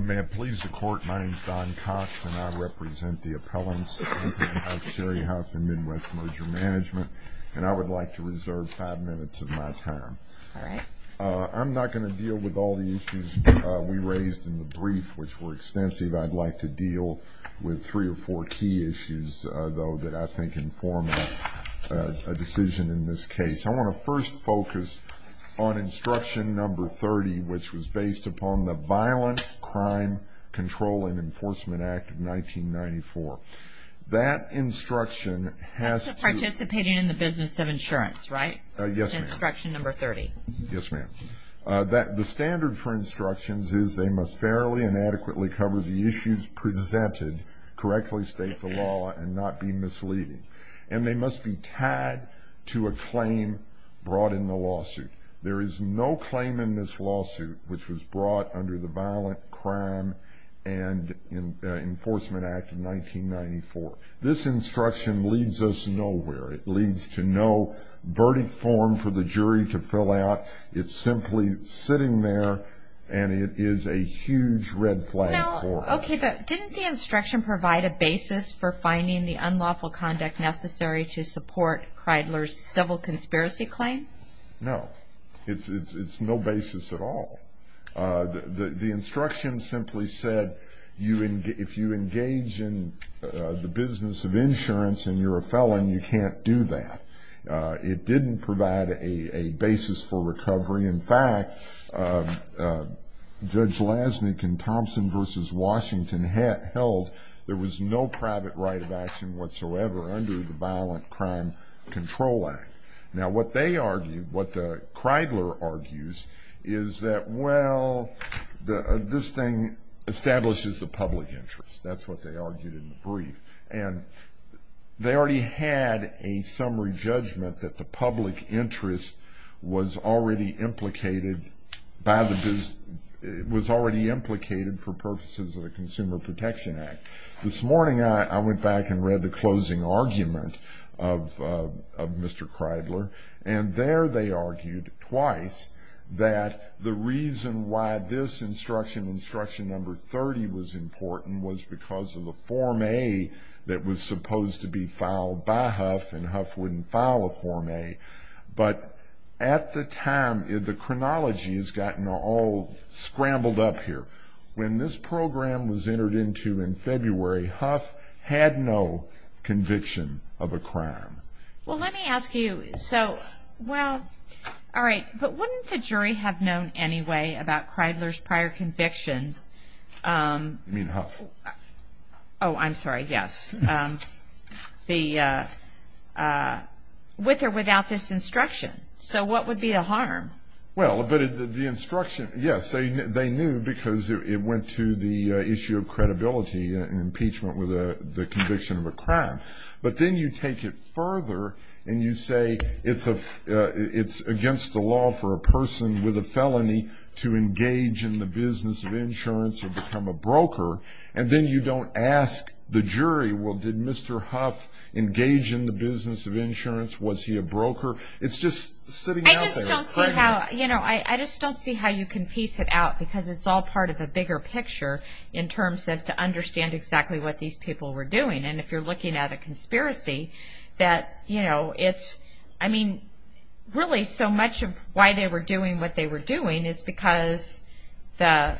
May I please the court? My name is Don Cox and I represent the appellants, Sherry Huff and Midwest Merger Management, and I would like to reserve five minutes of my time. I'm not going to deal with all the issues we raised in the brief, which were extensive. I'd like to deal with three or four key issues, though, that I think inform a decision in this case. I want to first focus on instruction number 30, which was based upon the Violent Crime Control and Enforcement Act of 1994. That instruction has to... Participating in the business of insurance, right? Yes, ma'am. Instruction number 30. Yes, ma'am. The standard for instructions is they must fairly and adequately cover the issues presented, correctly state the law, and not be misleading. And they must be tied to a claim brought in the lawsuit. There is no claim in this lawsuit which was brought under the Violent Crime and Enforcement Act of 1994. This instruction leads us nowhere. It leads to no verdict form for the jury to fill out. It's simply sitting there, and it is a huge red flag for us. Okay, but didn't the instruction provide a basis for finding the unlawful conduct necessary to support Cridler's civil conspiracy claim? No. It's no basis at all. The instruction simply said if you engage in the business of insurance and you're a felon, you can't do that. It didn't provide a basis for recovery. In fact, Judge Lasnik in Thompson v. Washington held there was no private right of action whatsoever under the Violent Crime Control Act. Now, what they argued, what Cridler argues, is that, well, this thing establishes the public interest. That's what they argued in the brief. And they already had a summary judgment that the public interest was already implicated for purposes of the Consumer Protection Act. This morning I went back and read the closing argument of Mr. Cridler, and there they argued twice that the reason why this instruction, instruction number 30, was important was because of the Form A that was supposed to be filed by Huff, and Huff wouldn't file a Form A. But at the time, the chronology has gotten all scrambled up here. When this program was entered into in February, Huff had no conviction of a crime. Well, let me ask you, so, well, all right, but wouldn't the jury have known anyway about Cridler's prior convictions? You mean Huff? Oh, I'm sorry, yes. With or without this instruction. So what would be the harm? Well, but the instruction, yes, they knew because it went to the issue of credibility and impeachment with the conviction of a crime. But then you take it further and you say it's against the law for a person with a felony to engage in the business of insurance or become a broker, and then you don't ask the jury, well, did Mr. Huff engage in the business of insurance? Was he a broker? It's just sitting out there. I just don't see how, you know, I just don't see how you can piece it out, because it's all part of a bigger picture in terms of to understand exactly what these people were doing. And if you're looking at a conspiracy, that, you know, it's, I mean, really so much of why they were doing what they were doing is because the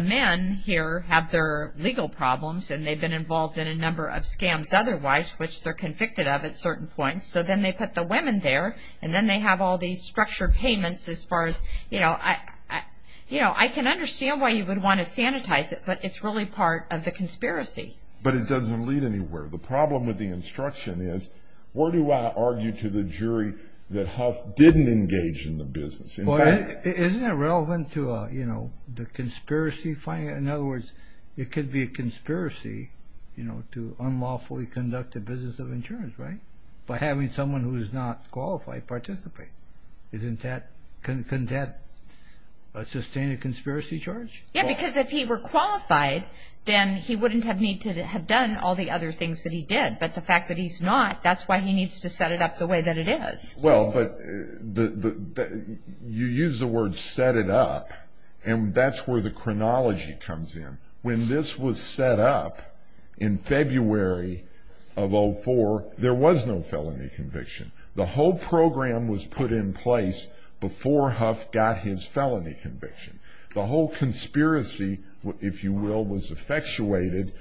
men here have their legal problems and they've been involved in a number of scams otherwise, which they're convicted of at certain points. So then they put the women there, and then they have all these structured payments as far as, you know, I can understand why you would want to sanitize it, but it's really part of the conspiracy. But it doesn't lead anywhere. The problem with the instruction is where do I argue to the jury that Huff didn't engage in the business? Isn't it relevant to, you know, the conspiracy finding? In other words, it could be a conspiracy, you know, to unlawfully conduct a business of insurance, right? By having someone who is not qualified participate. Isn't that, couldn't that sustain a conspiracy charge? Yeah, because if he were qualified, then he wouldn't have needed to have done all the other things that he did. But the fact that he's not, that's why he needs to set it up the way that it is. Well, but you use the word set it up, and that's where the chronology comes in. When this was set up in February of 04, there was no felony conviction. The whole program was put in place before Huff got his felony conviction. The whole conspiracy, if you will, was effectuated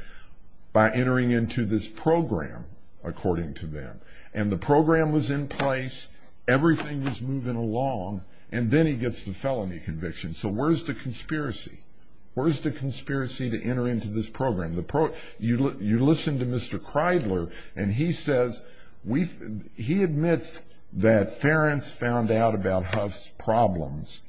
by entering into this program, according to them. And the program was in place, everything was moving along, and then he gets the felony conviction. So where's the conspiracy? Where's the conspiracy to enter into this program? You listen to Mr. Kreidler, and he says, he admits that Ference found out about Huff's problems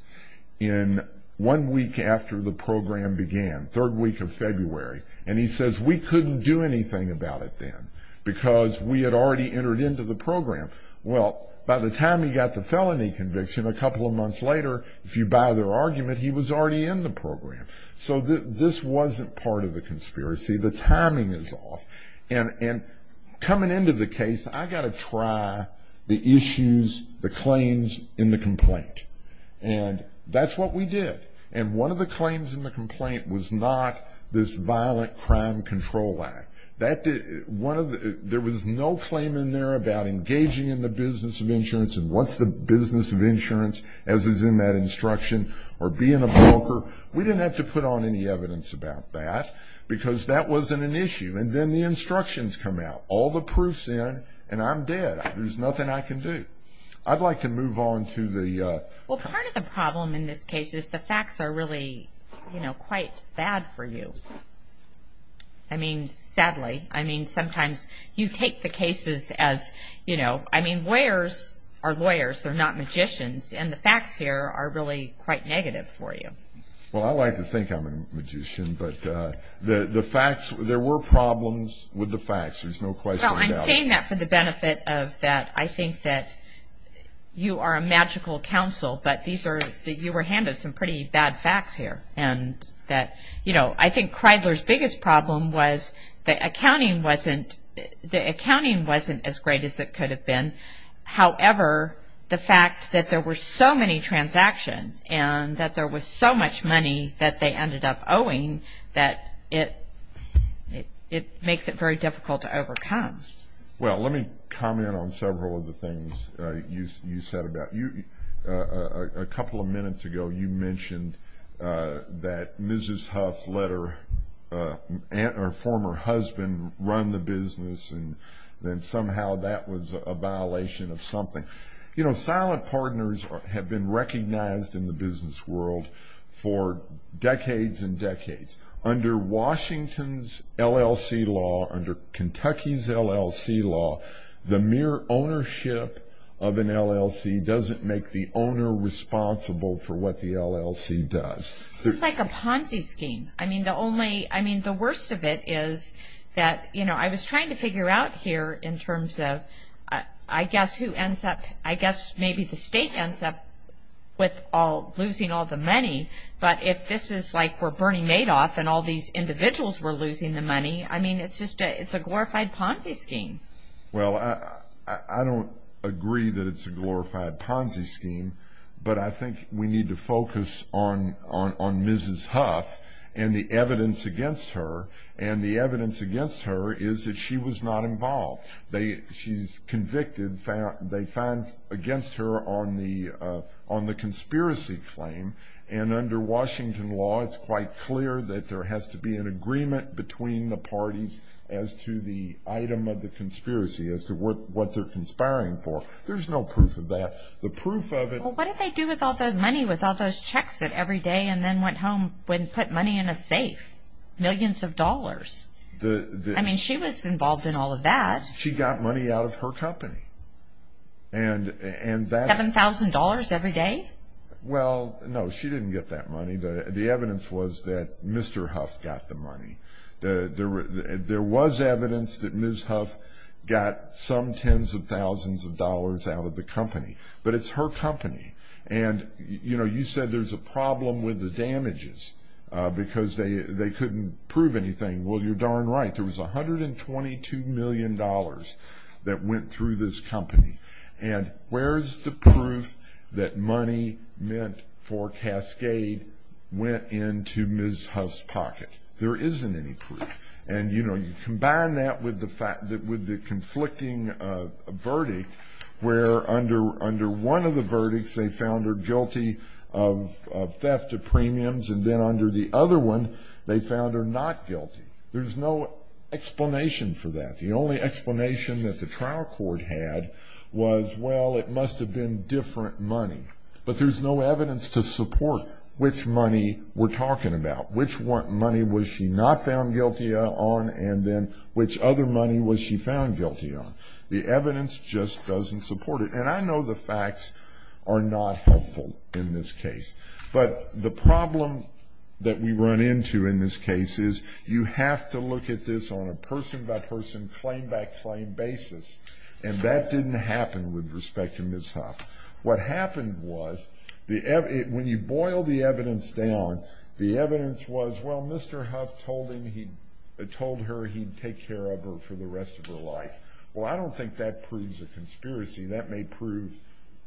in one week after the program began, third week of February. And he says, we couldn't do anything about it then, because we had already entered into the program. Well, by the time he got the felony conviction, a couple of months later, if you buy their argument, he was already in the program. So this wasn't part of the conspiracy. The timing is off. And coming into the case, I got to try the issues, the claims in the complaint. And that's what we did. And one of the claims in the complaint was not this Violent Crime Control Act. There was no claim in there about engaging in the business of insurance, and what's the business of insurance, as is in that instruction, or being a broker. We didn't have to put on any evidence about that, because that wasn't an issue. And then the instructions come out. All the proof's in, and I'm dead. There's nothing I can do. I'd like to move on to the... Well, part of the problem in this case is the facts are really, you know, quite bad for you. I mean, sadly. I mean, sometimes you take the cases as, you know, I mean, lawyers are lawyers. They're not magicians. And the facts here are really quite negative for you. Well, I like to think I'm a magician, but the facts, there were problems with the facts. There's no question about it. Well, I'm saying that for the benefit of that. I think that you are a magical counsel, but these are, you were handed some pretty bad facts here. And that, you know, I think Kreidler's biggest problem was the accounting wasn't as great as it could have been. However, the fact that there were so many transactions and that there was so much money that they ended up owing that it makes it very difficult to overcome. Well, let me comment on several of the things you said about you. A couple of minutes ago, you mentioned that Mrs. Huff let her former husband run the business, and then somehow that was a violation of something. You know, silent partners have been recognized in the business world for decades and decades. Under Washington's LLC law, under Kentucky's LLC law, the mere ownership of an LLC doesn't make the owner responsible for what the LLC does. This is like a Ponzi scheme. I mean, the only, I mean, the worst of it is that, you know, I was trying to figure out here in terms of I guess who ends up, I guess maybe the state ends up with losing all the money. But if this is like we're Bernie Madoff and all these individuals were losing the money, I mean, it's just a glorified Ponzi scheme. Well, I don't agree that it's a glorified Ponzi scheme, but I think we need to focus on Mrs. Huff and the evidence against her, and the evidence against her is that she was not involved. She's convicted. They found against her on the conspiracy claim, and under Washington law it's quite clear that there has to be an agreement between the parties as to the item of the conspiracy, as to what they're conspiring for. There's no proof of that. The proof of it. Well, what did they do with all the money, with all those checks that every day and then went home, went and put money in a safe? Millions of dollars. I mean, she was involved in all of that. She got money out of her company. $7,000 every day? Well, no, she didn't get that money. The evidence was that Mr. Huff got the money. There was evidence that Ms. Huff got some tens of thousands of dollars out of the company, but it's her company, and, you know, you said there's a problem with the damages because they couldn't prove anything. Well, you're darn right. There was $122 million that went through this company, and where's the proof that money meant for Cascade went into Ms. Huff's pocket? There isn't any proof. And, you know, you combine that with the conflicting verdict where under one of the verdicts they found her guilty of theft of premiums and then under the other one they found her not guilty. There's no explanation for that. The only explanation that the trial court had was, well, it must have been different money. But there's no evidence to support which money we're talking about, which money was she not found guilty on and then which other money was she found guilty on. The evidence just doesn't support it. And I know the facts are not helpful in this case, but the problem that we run into in this case is you have to look at this on a person-by-person, claim-by-claim basis, and that didn't happen with respect to Ms. Huff. What happened was when you boil the evidence down, the evidence was, well, Mr. Huff told her he'd take care of her for the rest of her life. Well, I don't think that proves a conspiracy. That may prove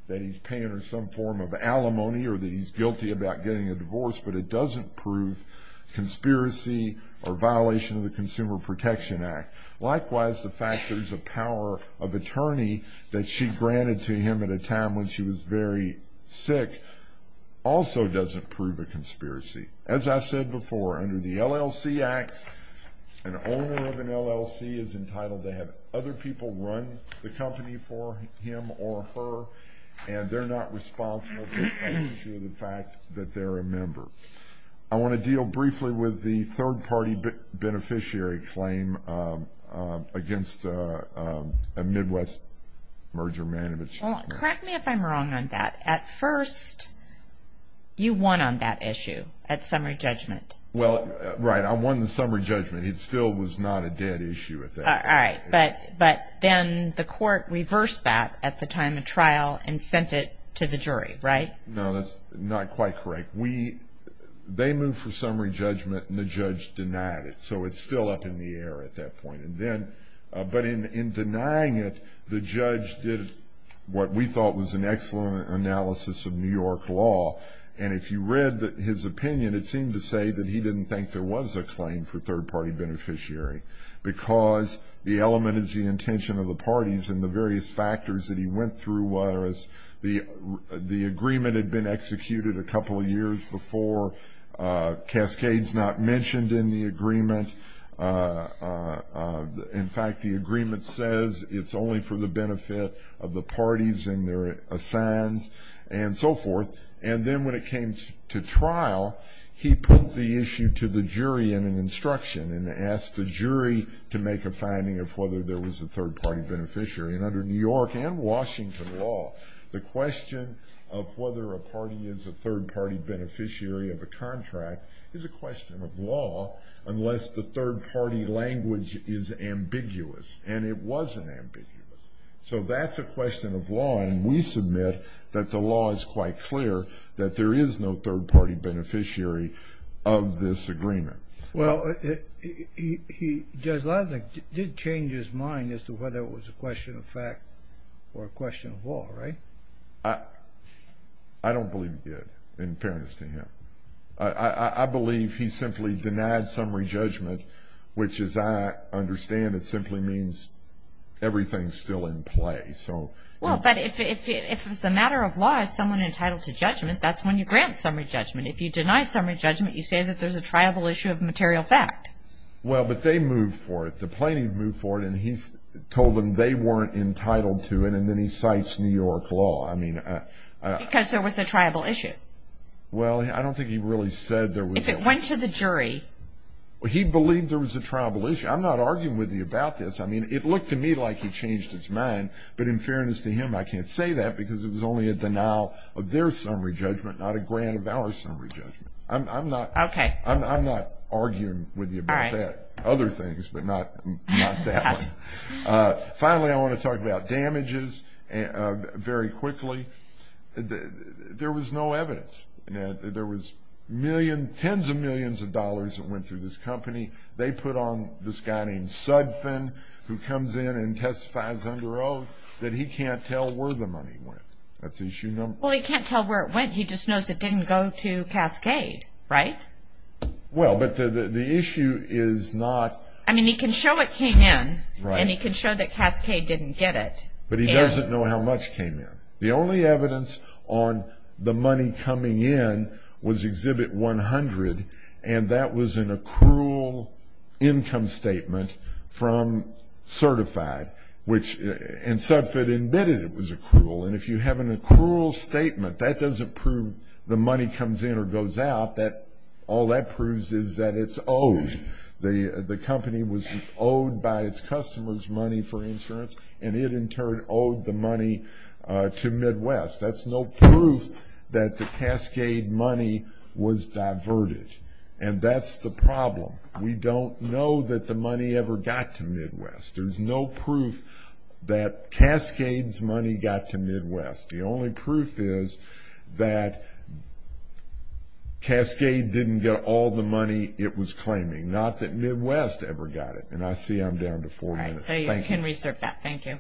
that he's paying her some form of alimony or that he's guilty about getting a divorce, but it doesn't prove conspiracy or violation of the Consumer Protection Act. Likewise, the fact there's a power of attorney that she granted to him at a time when she was very sick also doesn't prove a conspiracy. As I said before, under the LLC Acts, an owner of an LLC is entitled to have other people run the company for him or her, and they're not responsible for the fact that they're a member. I want to deal briefly with the third-party beneficiary claim against a Midwest merger manager. Well, correct me if I'm wrong on that. At first you won on that issue at summary judgment. Well, right, I won the summary judgment. It still was not a dead issue at that point. All right, but then the court reversed that at the time of trial and sent it to the jury, right? No, that's not quite correct. They moved for summary judgment and the judge denied it, so it's still up in the air at that point. But in denying it, the judge did what we thought was an excellent analysis of New York law, and if you read his opinion, it seemed to say that he didn't think there was a claim for third-party beneficiary because the element is the intention of the parties and the various factors that he went through, whereas the agreement had been executed a couple of years before, Cascade's not mentioned in the agreement. In fact, the agreement says it's only for the benefit of the parties and their assigns and so forth. And then when it came to trial, he put the issue to the jury in an instruction and asked the jury to make a finding of whether there was a third-party beneficiary. And under New York and Washington law, the question of whether a party is a third-party beneficiary of a contract is a question of law unless the third-party language is ambiguous, and it wasn't ambiguous. So that's a question of law, and we submit that the law is quite clear that there is no third-party beneficiary of this agreement. Well, Judge Laszlo did change his mind as to whether it was a question of fact or a question of law, right? I don't believe he did, in fairness to him. I believe he simply denied summary judgment, which as I understand it simply means everything's still in play. Well, but if it's a matter of law, someone entitled to judgment, that's when you grant summary judgment. If you deny summary judgment, you say that there's a triable issue of material fact. Well, but they moved for it. The plaintiff moved for it, and he told them they weren't entitled to it, and then he cites New York law. Because there was a triable issue. Well, I don't think he really said there was. If it went to the jury. He believed there was a triable issue. I'm not arguing with you about this. I mean, it looked to me like he changed his mind, but in fairness to him, I can't say that because it was only a denial of their summary judgment, not a grant of our summary judgment. I'm not arguing with you about that. Other things, but not that one. Finally, I want to talk about damages very quickly. There was no evidence. There was tens of millions of dollars that went through this company. They put on this guy named Sudfin, who comes in and testifies under oath, that he can't tell where the money went. Well, he can't tell where it went. He just knows it didn't go to Cascade, right? Well, but the issue is not. I mean, he can show it came in, and he can show that Cascade didn't get it. But he doesn't know how much came in. The only evidence on the money coming in was Exhibit 100, and that was an accrual income statement from Certified, and Sudfin admitted it was accrual. And if you have an accrual statement, that doesn't prove the money comes in or goes out. All that proves is that it's owed. The company was owed by its customers money for insurance, and it, in turn, owed the money to Midwest. That's no proof that the Cascade money was diverted, and that's the problem. We don't know that the money ever got to Midwest. There's no proof that Cascade's money got to Midwest. The only proof is that Cascade didn't get all the money it was claiming, not that Midwest ever got it. And I see I'm down to four minutes. All right, so you can reserve that. Thank you.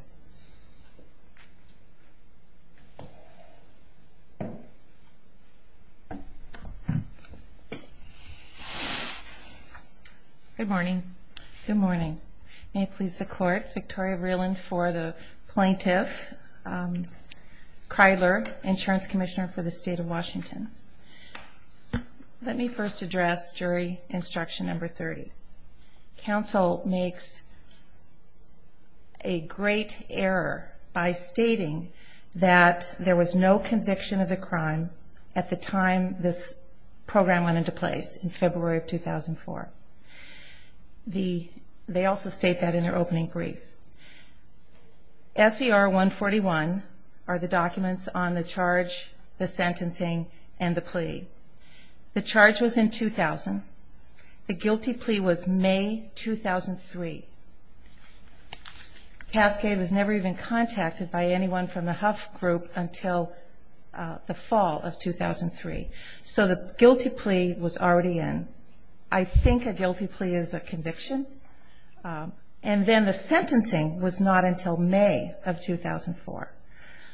Good morning. Good morning. May it please the Court, Victoria Vreeland for the Plaintiff, Kreidler, Insurance Commissioner for the State of Washington. Let me first address Jury Instruction Number 30. Counsel makes a great error by stating that there was no conviction of the crime at the time this program went into place, in February of 2004. They also state that in their opening brief. SER 141 are the documents on the charge, the sentencing, and the plea. The charge was in 2000. The guilty plea was May 2003. Cascade was never even contacted by anyone from the Huff Group until the fall of 2003. So the guilty plea was already in. I think a guilty plea is a conviction. And then the sentencing was not until May of 2004.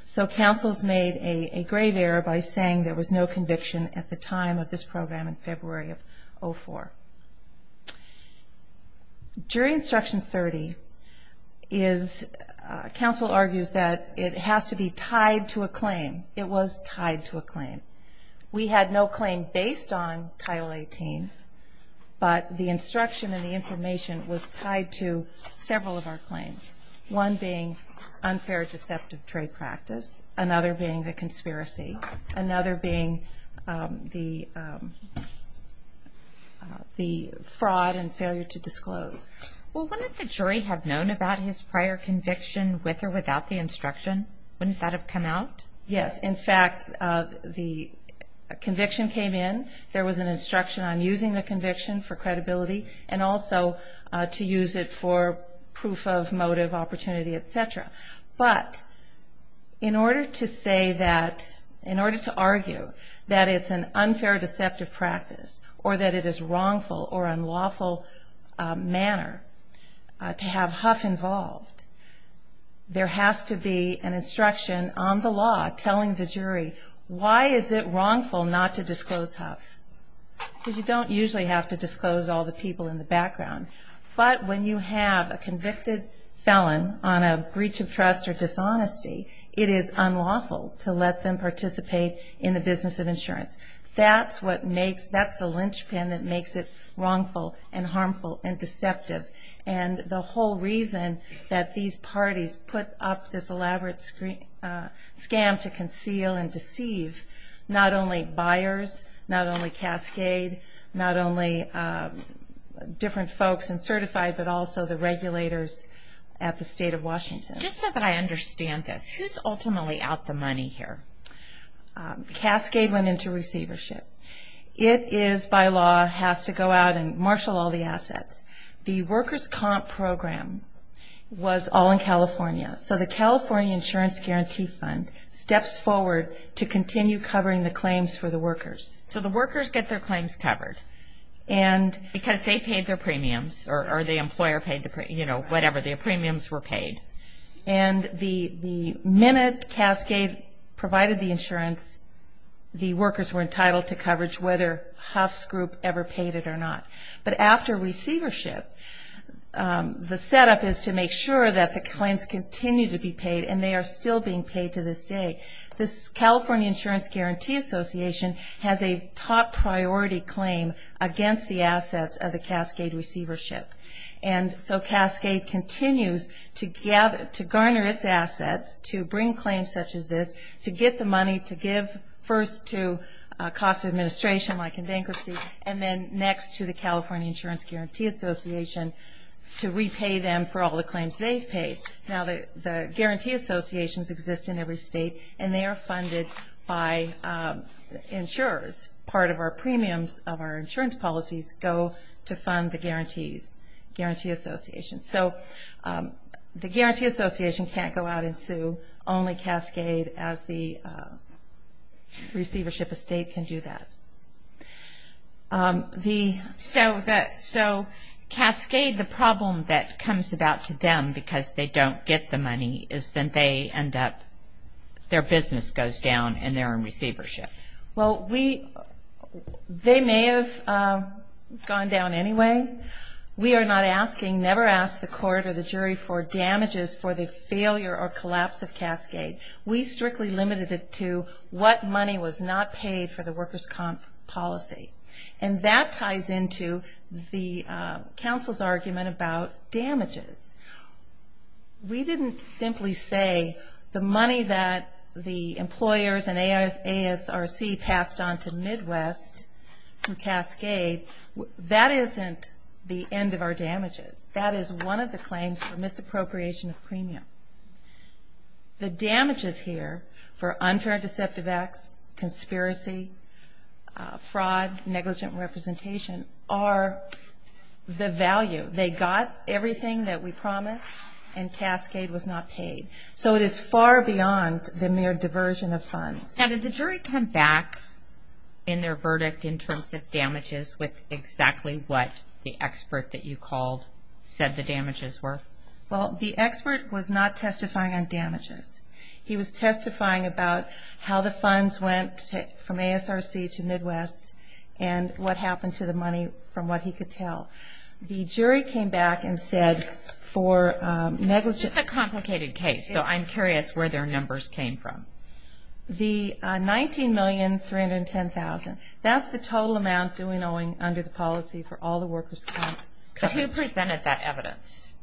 So counsel's made a grave error by saying there was no conviction at the time of this program in February of 2004. Jury Instruction 30 is counsel argues that it has to be tied to a claim. It was tied to a claim. We had no claim based on Title 18, but the instruction and the information was tied to several of our claims. One being unfair deceptive trade practice. Another being the conspiracy. Another being the fraud and failure to disclose. Well, wouldn't the jury have known about his prior conviction with or without the instruction? Wouldn't that have come out? Yes. In fact, the conviction came in. There was an instruction on using the conviction for credibility and also to use it for proof of motive, opportunity, et cetera. But in order to say that, in order to argue that it's an unfair deceptive practice or that it is wrongful or unlawful manner to have Huff involved, there has to be an instruction on the law telling the jury, why is it wrongful not to disclose Huff? Because you don't usually have to disclose all the people in the background. But when you have a convicted felon on a breach of trust or dishonesty, it is unlawful to let them participate in the business of insurance. That's the linchpin that makes it wrongful and harmful and deceptive. And the whole reason that these parties put up this elaborate scam to conceal and deceive not only buyers, not only Cascade, not only different folks and certified, but also the regulators at the State of Washington. Just so that I understand this, who's ultimately out the money here? Cascade went into receivership. It is, by law, has to go out and marshal all the assets. The workers' comp program was all in California. So the California Insurance Guarantee Fund steps forward to continue covering the claims for the workers. So the workers get their claims covered because they paid their premiums or the employer paid the premiums, you know, whatever, their premiums were paid. And the minute Cascade provided the insurance, the workers were entitled to coverage whether Huff's group ever paid it or not. But after receivership, the setup is to make sure that the claims continue to be paid and they are still being paid to this day. This California Insurance Guarantee Association has a top-priority claim against the assets of the Cascade receivership. And so Cascade continues to garner its assets, to bring claims such as this, to get the money to give first to a cost of administration like in bankruptcy, and then next to the California Insurance Guarantee Association to repay them for all the claims they've paid. Now the guarantee associations exist in every state, and they are funded by insurers. Part of our premiums of our insurance policies go to fund the guarantees, guarantee associations. So the guarantee association can't go out and sue. Only Cascade, as the receivership estate, can do that. So Cascade, the problem that comes about to them because they don't get the money, is that they end up, their business goes down and they're in receivership. Well, they may have gone down anyway. We are not asking, never ask the court or the jury for damages for the failure or collapse of Cascade. We strictly limited it to what money was not paid for the workers' comp policy. And that ties into the counsel's argument about damages. We didn't simply say the money that the employers and ASRC passed on to Midwest through Cascade, that isn't the end of our damages. That is one of the claims for misappropriation of premium. The damages here for unfair and deceptive acts, conspiracy, fraud, negligent representation, are the value. They got everything that we promised, and Cascade was not paid. So it is far beyond the mere diversion of funds. And did the jury come back in their verdict in terms of damages with exactly what the expert that you called said the damages were? Well, the expert was not testifying on damages. He was testifying about how the funds went from ASRC to Midwest and what happened to the money from what he could tell. The jury came back and said for negligent... This is a complicated case, so I'm curious where their numbers came from. The $19,310,000, that's the total amount due and owing under the policy for all the workers' compensation. But who presented that evidence?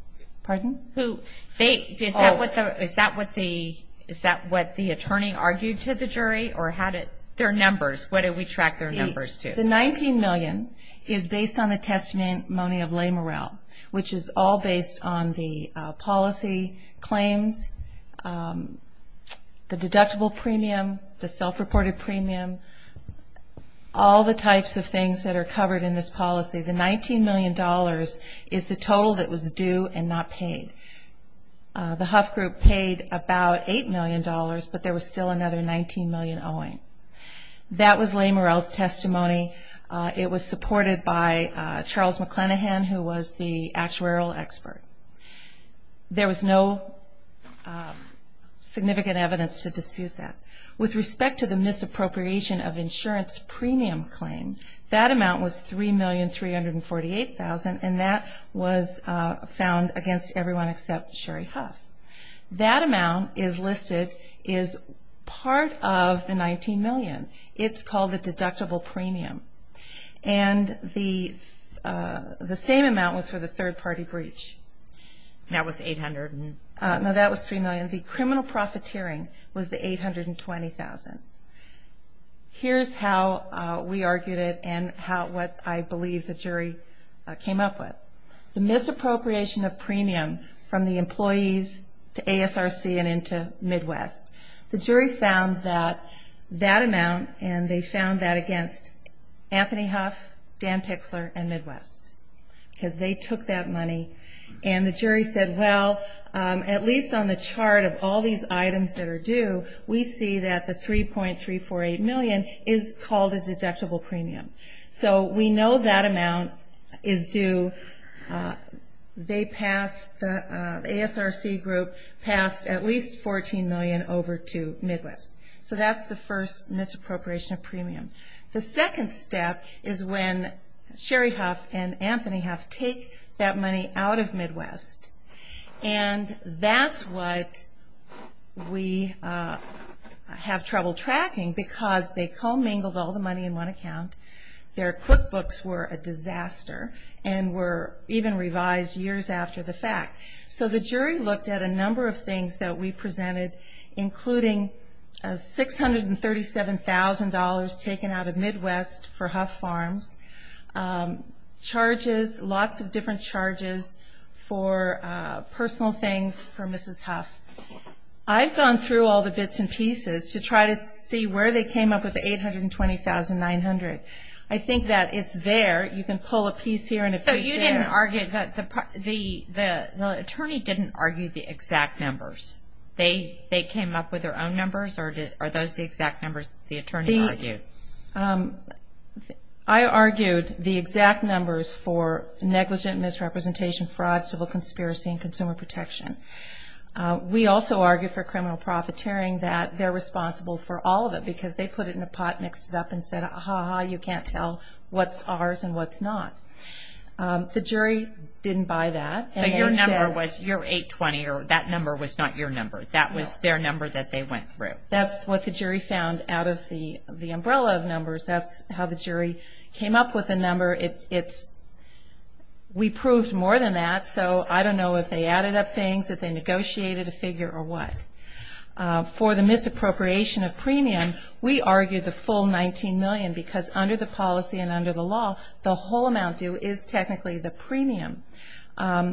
Pardon? Is that what the attorney argued to the jury, or how did their numbers, what did we track their numbers to? The $19 million is based on the testimony of lay morale, which is all based on the policy claims, the deductible premium, the self-reported premium, all the types of things that are covered in this policy. The $19 million is the total that was due and not paid. The Huff Group paid about $8 million, but there was still another $19 million owing. That was lay morale's testimony. It was supported by Charles McClanahan, who was the actuarial expert. There was no significant evidence to dispute that. With respect to the misappropriation of insurance premium claim, that amount was $3,348,000, and that was found against everyone except Sherry Huff. That amount is listed as part of the $19 million. It's called the deductible premium. And the same amount was for the third-party breach. That was $800,000. No, that was $3 million. The criminal profiteering was the $820,000. Here's how we argued it and what I believe the jury came up with. The misappropriation of premium from the employees to ASRC and into Midwest. The jury found that that amount, and they found that against Anthony Huff, Dan Pixler, and Midwest, because they took that money. And the jury said, well, at least on the chart of all these items that are due, we see that the $3,348,000 is called a deductible premium. So we know that amount is due. The ASRC group passed at least $14 million over to Midwest. So that's the first misappropriation of premium. The second step is when Sherry Huff and Anthony Huff take that money out of Midwest, and that's what we have trouble tracking because they commingled all the money in one account. Their QuickBooks were a disaster and were even revised years after the fact. So the jury looked at a number of things that we presented, including $637,000 taken out of Midwest for Huff Farms, charges, lots of different charges for personal things for Mrs. Huff. I've gone through all the bits and pieces to try to see where they came up with the $820,900. I think that it's there. You can pull a piece here and a piece there. So you didn't argue that the attorney didn't argue the exact numbers. They came up with their own numbers, or are those the exact numbers the attorney argued? I argued the exact numbers for negligent misrepresentation, fraud, civil conspiracy, and consumer protection. We also argued for criminal profiteering that they're responsible for all of it because they put it in a pot, mixed it up, and said, ah-ha-ha, you can't tell what's ours and what's not. The jury didn't buy that. So your number was your $820, or that number was not your number. That was their number that they went through. That's what the jury found out of the umbrella of numbers. That's how the jury came up with the number. We proved more than that, so I don't know if they added up things, if they negotiated a figure or what. For the misappropriation of premium, we argued the full $19 million because under the policy and under the law, the whole amount due is technically the premium.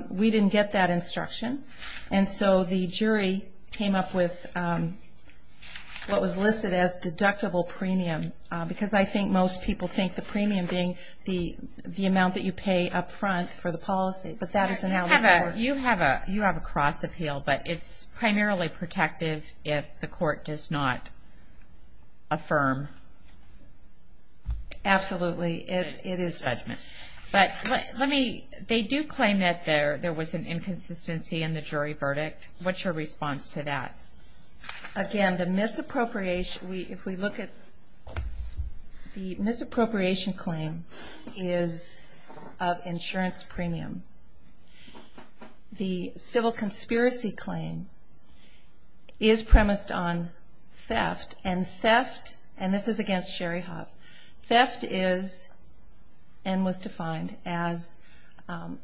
We didn't get that instruction. And so the jury came up with what was listed as deductible premium because I think most people think the premium being the amount that you pay up front for the policy. But that is analysis. You have a cross appeal, but it's primarily protective if the court does not affirm. Absolutely, it is judgment. But they do claim that there was an inconsistency in the jury verdict. What's your response to that? Again, the misappropriation claim is of insurance premium. The civil conspiracy claim is premised on theft, and this is against Sherry Huff. Theft is and was defined as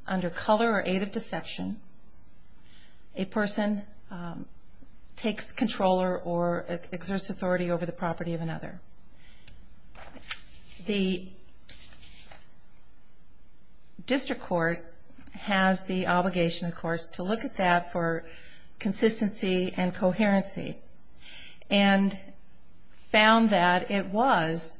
under color or aid of deception, a person takes controller or exerts authority over the property of another. The district court has the obligation, of course, to look at that for consistency and coherency and found that it was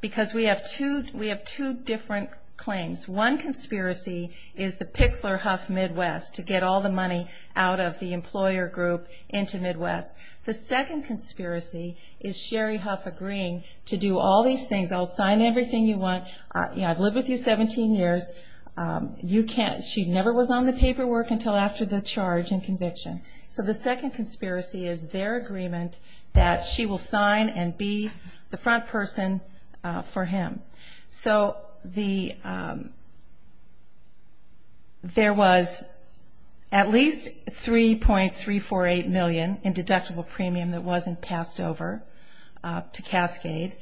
because we have two different claims. One conspiracy is the Pixler Huff Midwest to get all the money out of the employer group into Midwest. The second conspiracy is Sherry Huff agreeing to do all these things. I'll sign everything you want. I've lived with you 17 years. She never was on the paperwork until after the charge and conviction. So the second conspiracy is their agreement that she will sign and be the front person for him. So there was at least $3.348 million in deductible premium that wasn't passed over to Cascade.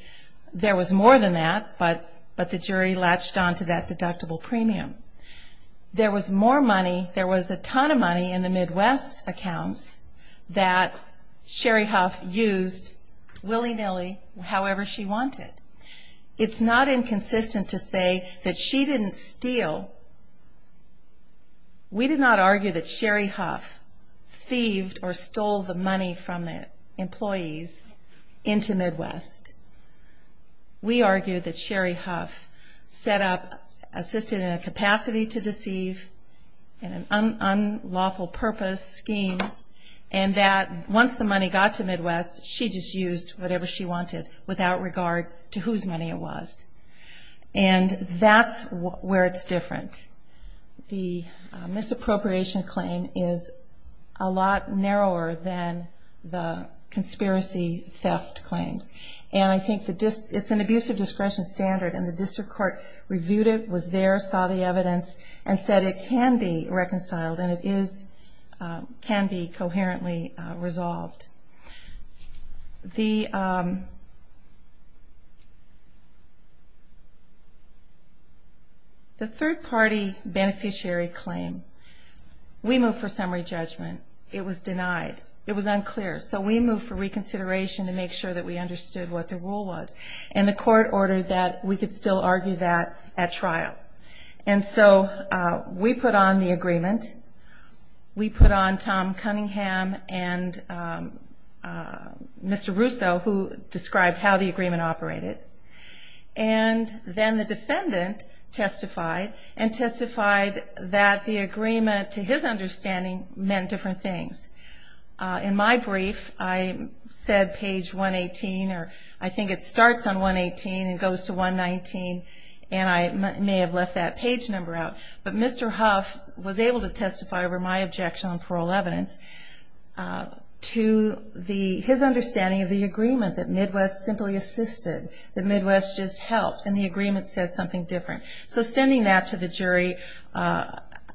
There was more than that, but the jury latched on to that deductible premium. There was more money, there was a ton of money in the Midwest accounts that Sherry Huff used willy-nilly however she wanted. It's not inconsistent to say that she didn't steal. We did not argue that Sherry Huff thieved or stole the money from the employees into Midwest. We argued that Sherry Huff set up, assisted in a capacity to deceive, in an unlawful purpose scheme, and that once the money got to Midwest, she just used whatever she wanted without regard to whose money it was. And that's where it's different. The misappropriation claim is a lot narrower than the conspiracy theft claims. And I think it's an abuse of discretion standard, and the district court reviewed it, was there, saw the evidence, and said it can be reconciled and it can be coherently resolved. The third-party beneficiary claim, we moved for summary judgment. It was denied. It was unclear. So we moved for reconsideration to make sure that we understood what the rule was. And the court ordered that we could still argue that at trial. And so we put on the agreement. We put on Tom Cunningham and Mr. Russo, who described how the agreement operated. And then the defendant testified and testified that the agreement, to his understanding, meant different things. In my brief, I said page 118, or I think it starts on 118 and goes to 119, and I may have left that page number out. But Mr. Huff was able to testify over my objection on parole evidence to his understanding of the agreement, that Midwest simply assisted, that Midwest just helped, and the agreement says something different. So sending that to the jury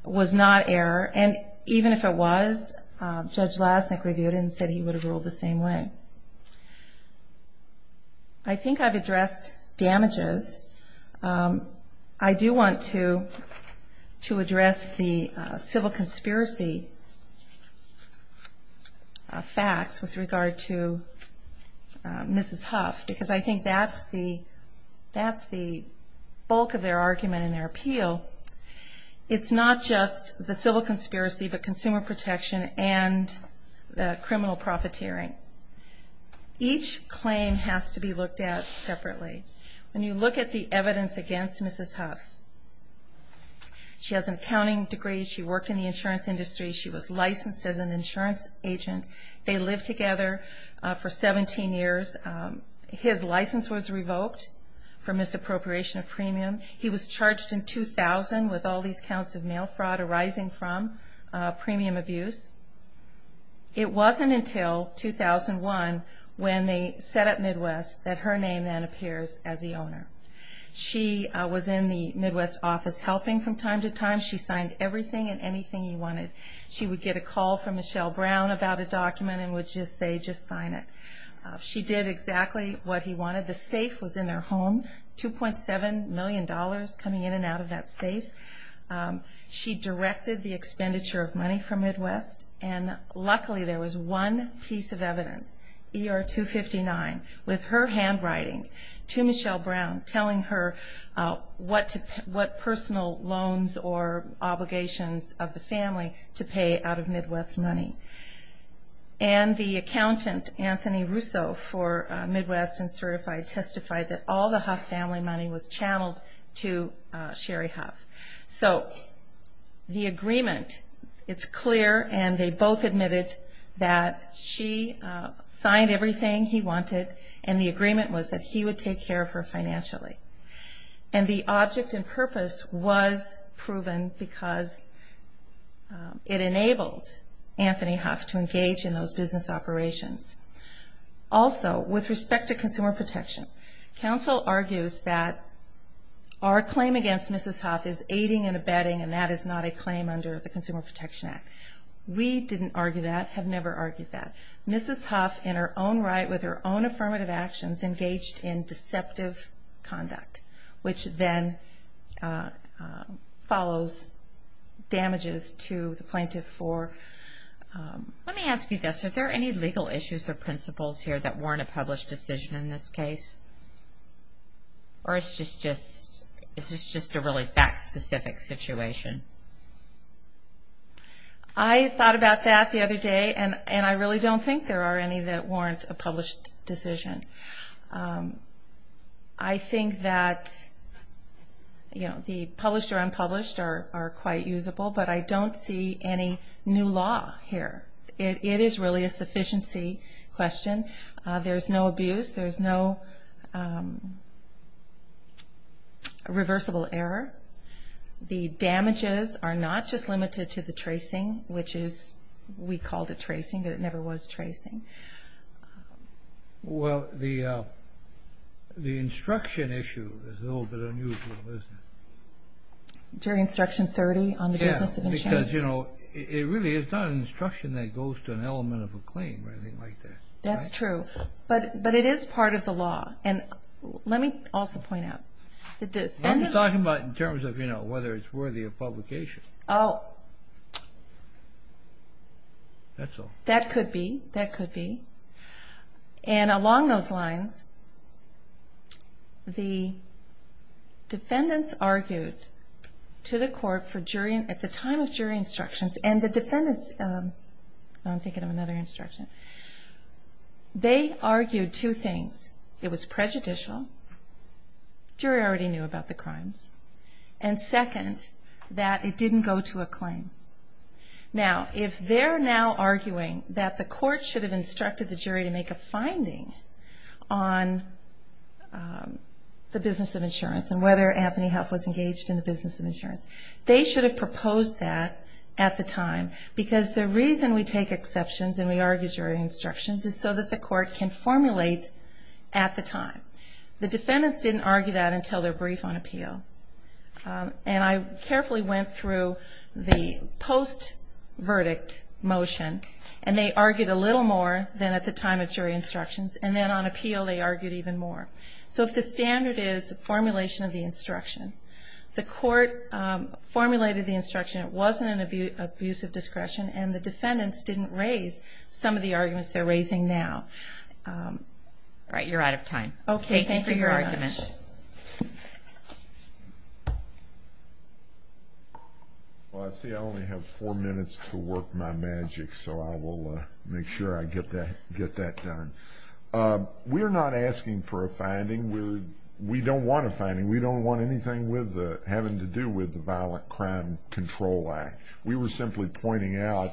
was not error. And even if it was, Judge Lasnik reviewed it and said he would have ruled the same way. I think I've addressed damages. I do want to address the civil conspiracy facts with regard to Mrs. Huff, because I think that's the bulk of their argument in their appeal. It's not just the civil conspiracy, but consumer protection and the criminal profiteering. Each claim has to be looked at separately. When you look at the evidence against Mrs. Huff, she has an accounting degree. She worked in the insurance industry. She was licensed as an insurance agent. They lived together for 17 years. His license was revoked for misappropriation of premium. He was charged in 2000 with all these counts of mail fraud arising from premium abuse. It wasn't until 2001, when they set up Midwest, that her name then appears as the owner. She was in the Midwest office helping from time to time. She signed everything and anything he wanted. She would get a call from Michelle Brown about a document and would just say, just sign it. She did exactly what he wanted. The safe was in their home, $2.7 million coming in and out of that safe. She directed the expenditure of money from Midwest. Luckily, there was one piece of evidence, ER 259, with her handwriting to Michelle Brown, telling her what personal loans or obligations of the family to pay out of Midwest money. And the accountant, Anthony Russo, for Midwest and certified, testified that all the Huff family money was channeled to Sherry Huff. So the agreement, it's clear, and they both admitted that she signed everything he wanted, and the agreement was that he would take care of her financially. And the object and purpose was proven because it enabled Anthony Huff to engage in those business operations. Also, with respect to consumer protection, counsel argues that our claim against Mrs. Huff is aiding and abetting, and that is not a claim under the Consumer Protection Act. We didn't argue that, have never argued that. Mrs. Huff, in her own right, with her own affirmative actions, engaged in deceptive conduct, which then follows damages to the plaintiff for... Let me ask you this. Are there any legal issues or principles here that warrant a published decision in this case? Or is this just a really fact-specific situation? I thought about that the other day, and I really don't think there are any that warrant a published decision. I think that, you know, the published or unpublished are quite usable, but I don't see any new law here. It is really a sufficiency question. There's no abuse. There's no reversible error. The damages are not just limited to the tracing, which is, we called it tracing, but it never was tracing. Well, the instruction issue is a little bit unusual, isn't it? During Instruction 30 on the business of insurance? Yes, because, you know, it really is not an instruction that goes to an element of a claim or anything like that. That's true, but it is part of the law. And let me also point out, the defendants... I'm just talking about in terms of, you know, whether it's worthy of publication. Oh. That's all. That could be. That could be. And along those lines, the defendants argued to the court at the time of jury instructions, and the defendants... I'm thinking of another instruction. They argued two things. It was prejudicial. The jury already knew about the crimes. And second, that it didn't go to a claim. Now, if they're now arguing that the court should have instructed the jury to make a finding on the business of insurance and whether Anthony Huff was engaged in the business of insurance, they should have proposed that at the time because the reason we take exceptions and we argue jury instructions is so that the court can formulate at the time. The defendants didn't argue that until their brief on appeal. And I carefully went through the post-verdict motion, and they argued a little more than at the time of jury instructions, and then on appeal they argued even more. So if the standard is formulation of the instruction, the court formulated the instruction. It wasn't an abuse of discretion, and the defendants didn't raise some of the arguments they're raising now. All right. You're out of time. Okay. Thank you very much. Thank you for your argument. Well, I see I only have four minutes to work my magic, so I will make sure I get that done. We're not asking for a finding. We don't want a finding. We don't want anything having to do with the Violent Crime Control Act. We were simply pointing out,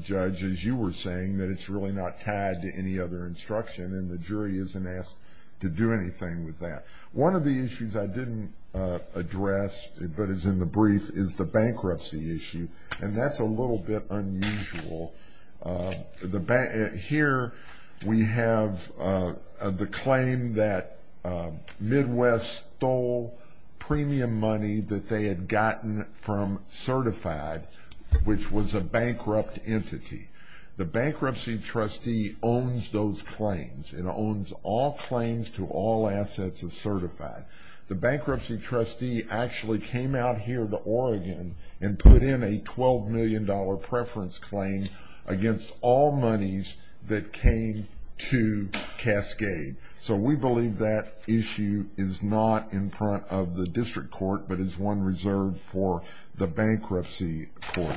Judge, as you were saying, that it's really not tied to any other instruction, and the jury isn't asked to do anything with that. One of the issues I didn't address, but is in the brief, is the bankruptcy issue, and that's a little bit unusual. Here we have the claim that Midwest stole premium money that they had gotten from Certified, which was a bankrupt entity. The bankruptcy trustee owns those claims. It owns all claims to all assets of Certified. The bankruptcy trustee actually came out here to Oregon and put in a $12 million preference claim against all monies that came to Cascade. So we believe that issue is not in front of the district court, but is one reserved for the bankruptcy court.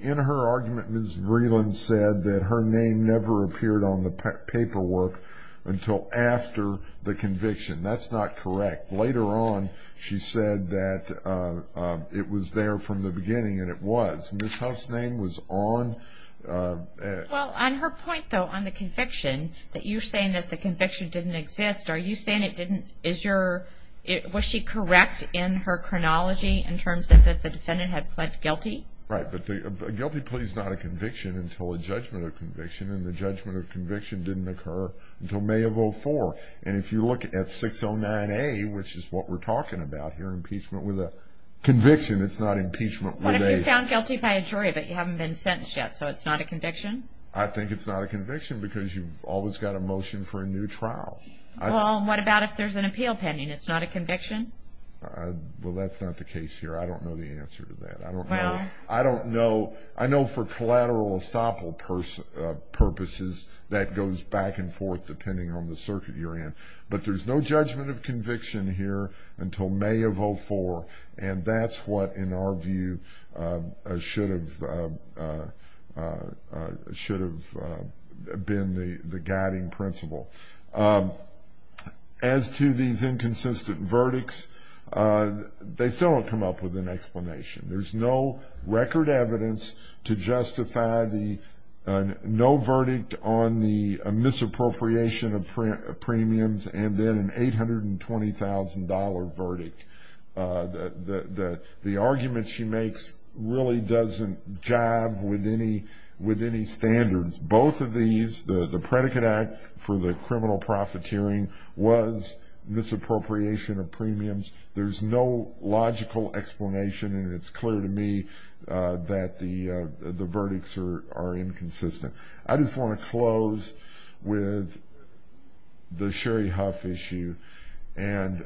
In her argument, Ms. Vreeland said that her name never appeared on the paperwork until after the conviction. That's not correct. Later on, she said that it was there from the beginning, and it was. Ms. Huff's name was on it. Well, on her point, though, on the conviction, that you're saying that the conviction didn't exist, are you saying it didn't? Was she correct in her chronology in terms of that the defendant had pled guilty? Right, but a guilty plea is not a conviction until a judgment of conviction, and the judgment of conviction didn't occur until May of 2004. And if you look at 609A, which is what we're talking about here, impeachment with a conviction, it's not impeachment with a ---- What if you're found guilty by a jury, but you haven't been sentenced yet, so it's not a conviction? I think it's not a conviction because you've always got a motion for a new trial. Well, what about if there's an appeal pending? It's not a conviction? Well, that's not the case here. I don't know the answer to that. I don't know. I know for collateral estoppel purposes, that goes back and forth depending on the circuit you're in. But there's no judgment of conviction here until May of 2004, and that's what, in our view, should have been the guiding principle. As to these inconsistent verdicts, they still don't come up with an explanation. There's no record evidence to justify the no verdict on the misappropriation of premiums and then an $820,000 verdict. The argument she makes really doesn't jive with any standards. Both of these, the predicate act for the criminal profiteering was misappropriation of premiums. There's no logical explanation, and it's clear to me that the verdicts are inconsistent. I just want to close with the Sherry Huff issue, and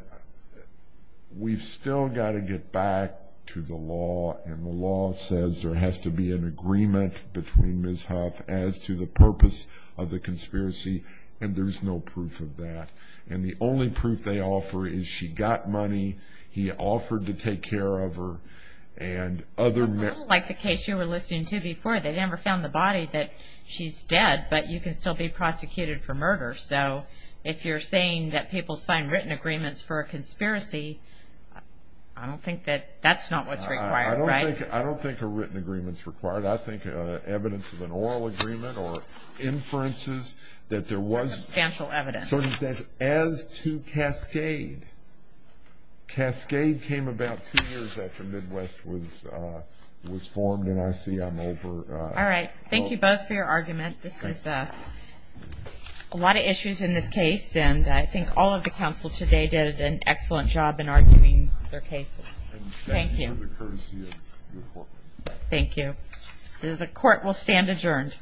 we've still got to get back to the law, and the law says there has to be an agreement between Ms. Huff as to the purpose of the conspiracy, and there's no proof of that. And the only proof they offer is she got money, he offered to take care of her. It's a little like the case you were listening to before. They never found the body that she's dead, but you can still be prosecuted for murder. So if you're saying that people sign written agreements for a conspiracy, I don't think that that's not what's required, right? I don't think a written agreement's required. I think evidence of an oral agreement or inferences that there was substantial evidence. So as to Cascade, Cascade came about two years after Midwest was formed, and I see I'm over. All right, thank you both for your argument. This is a lot of issues in this case, and I think all of the counsel today did an excellent job in arguing their cases. Thank you. Thank you for the courtesy of your court. Thank you. The court will stand adjourned.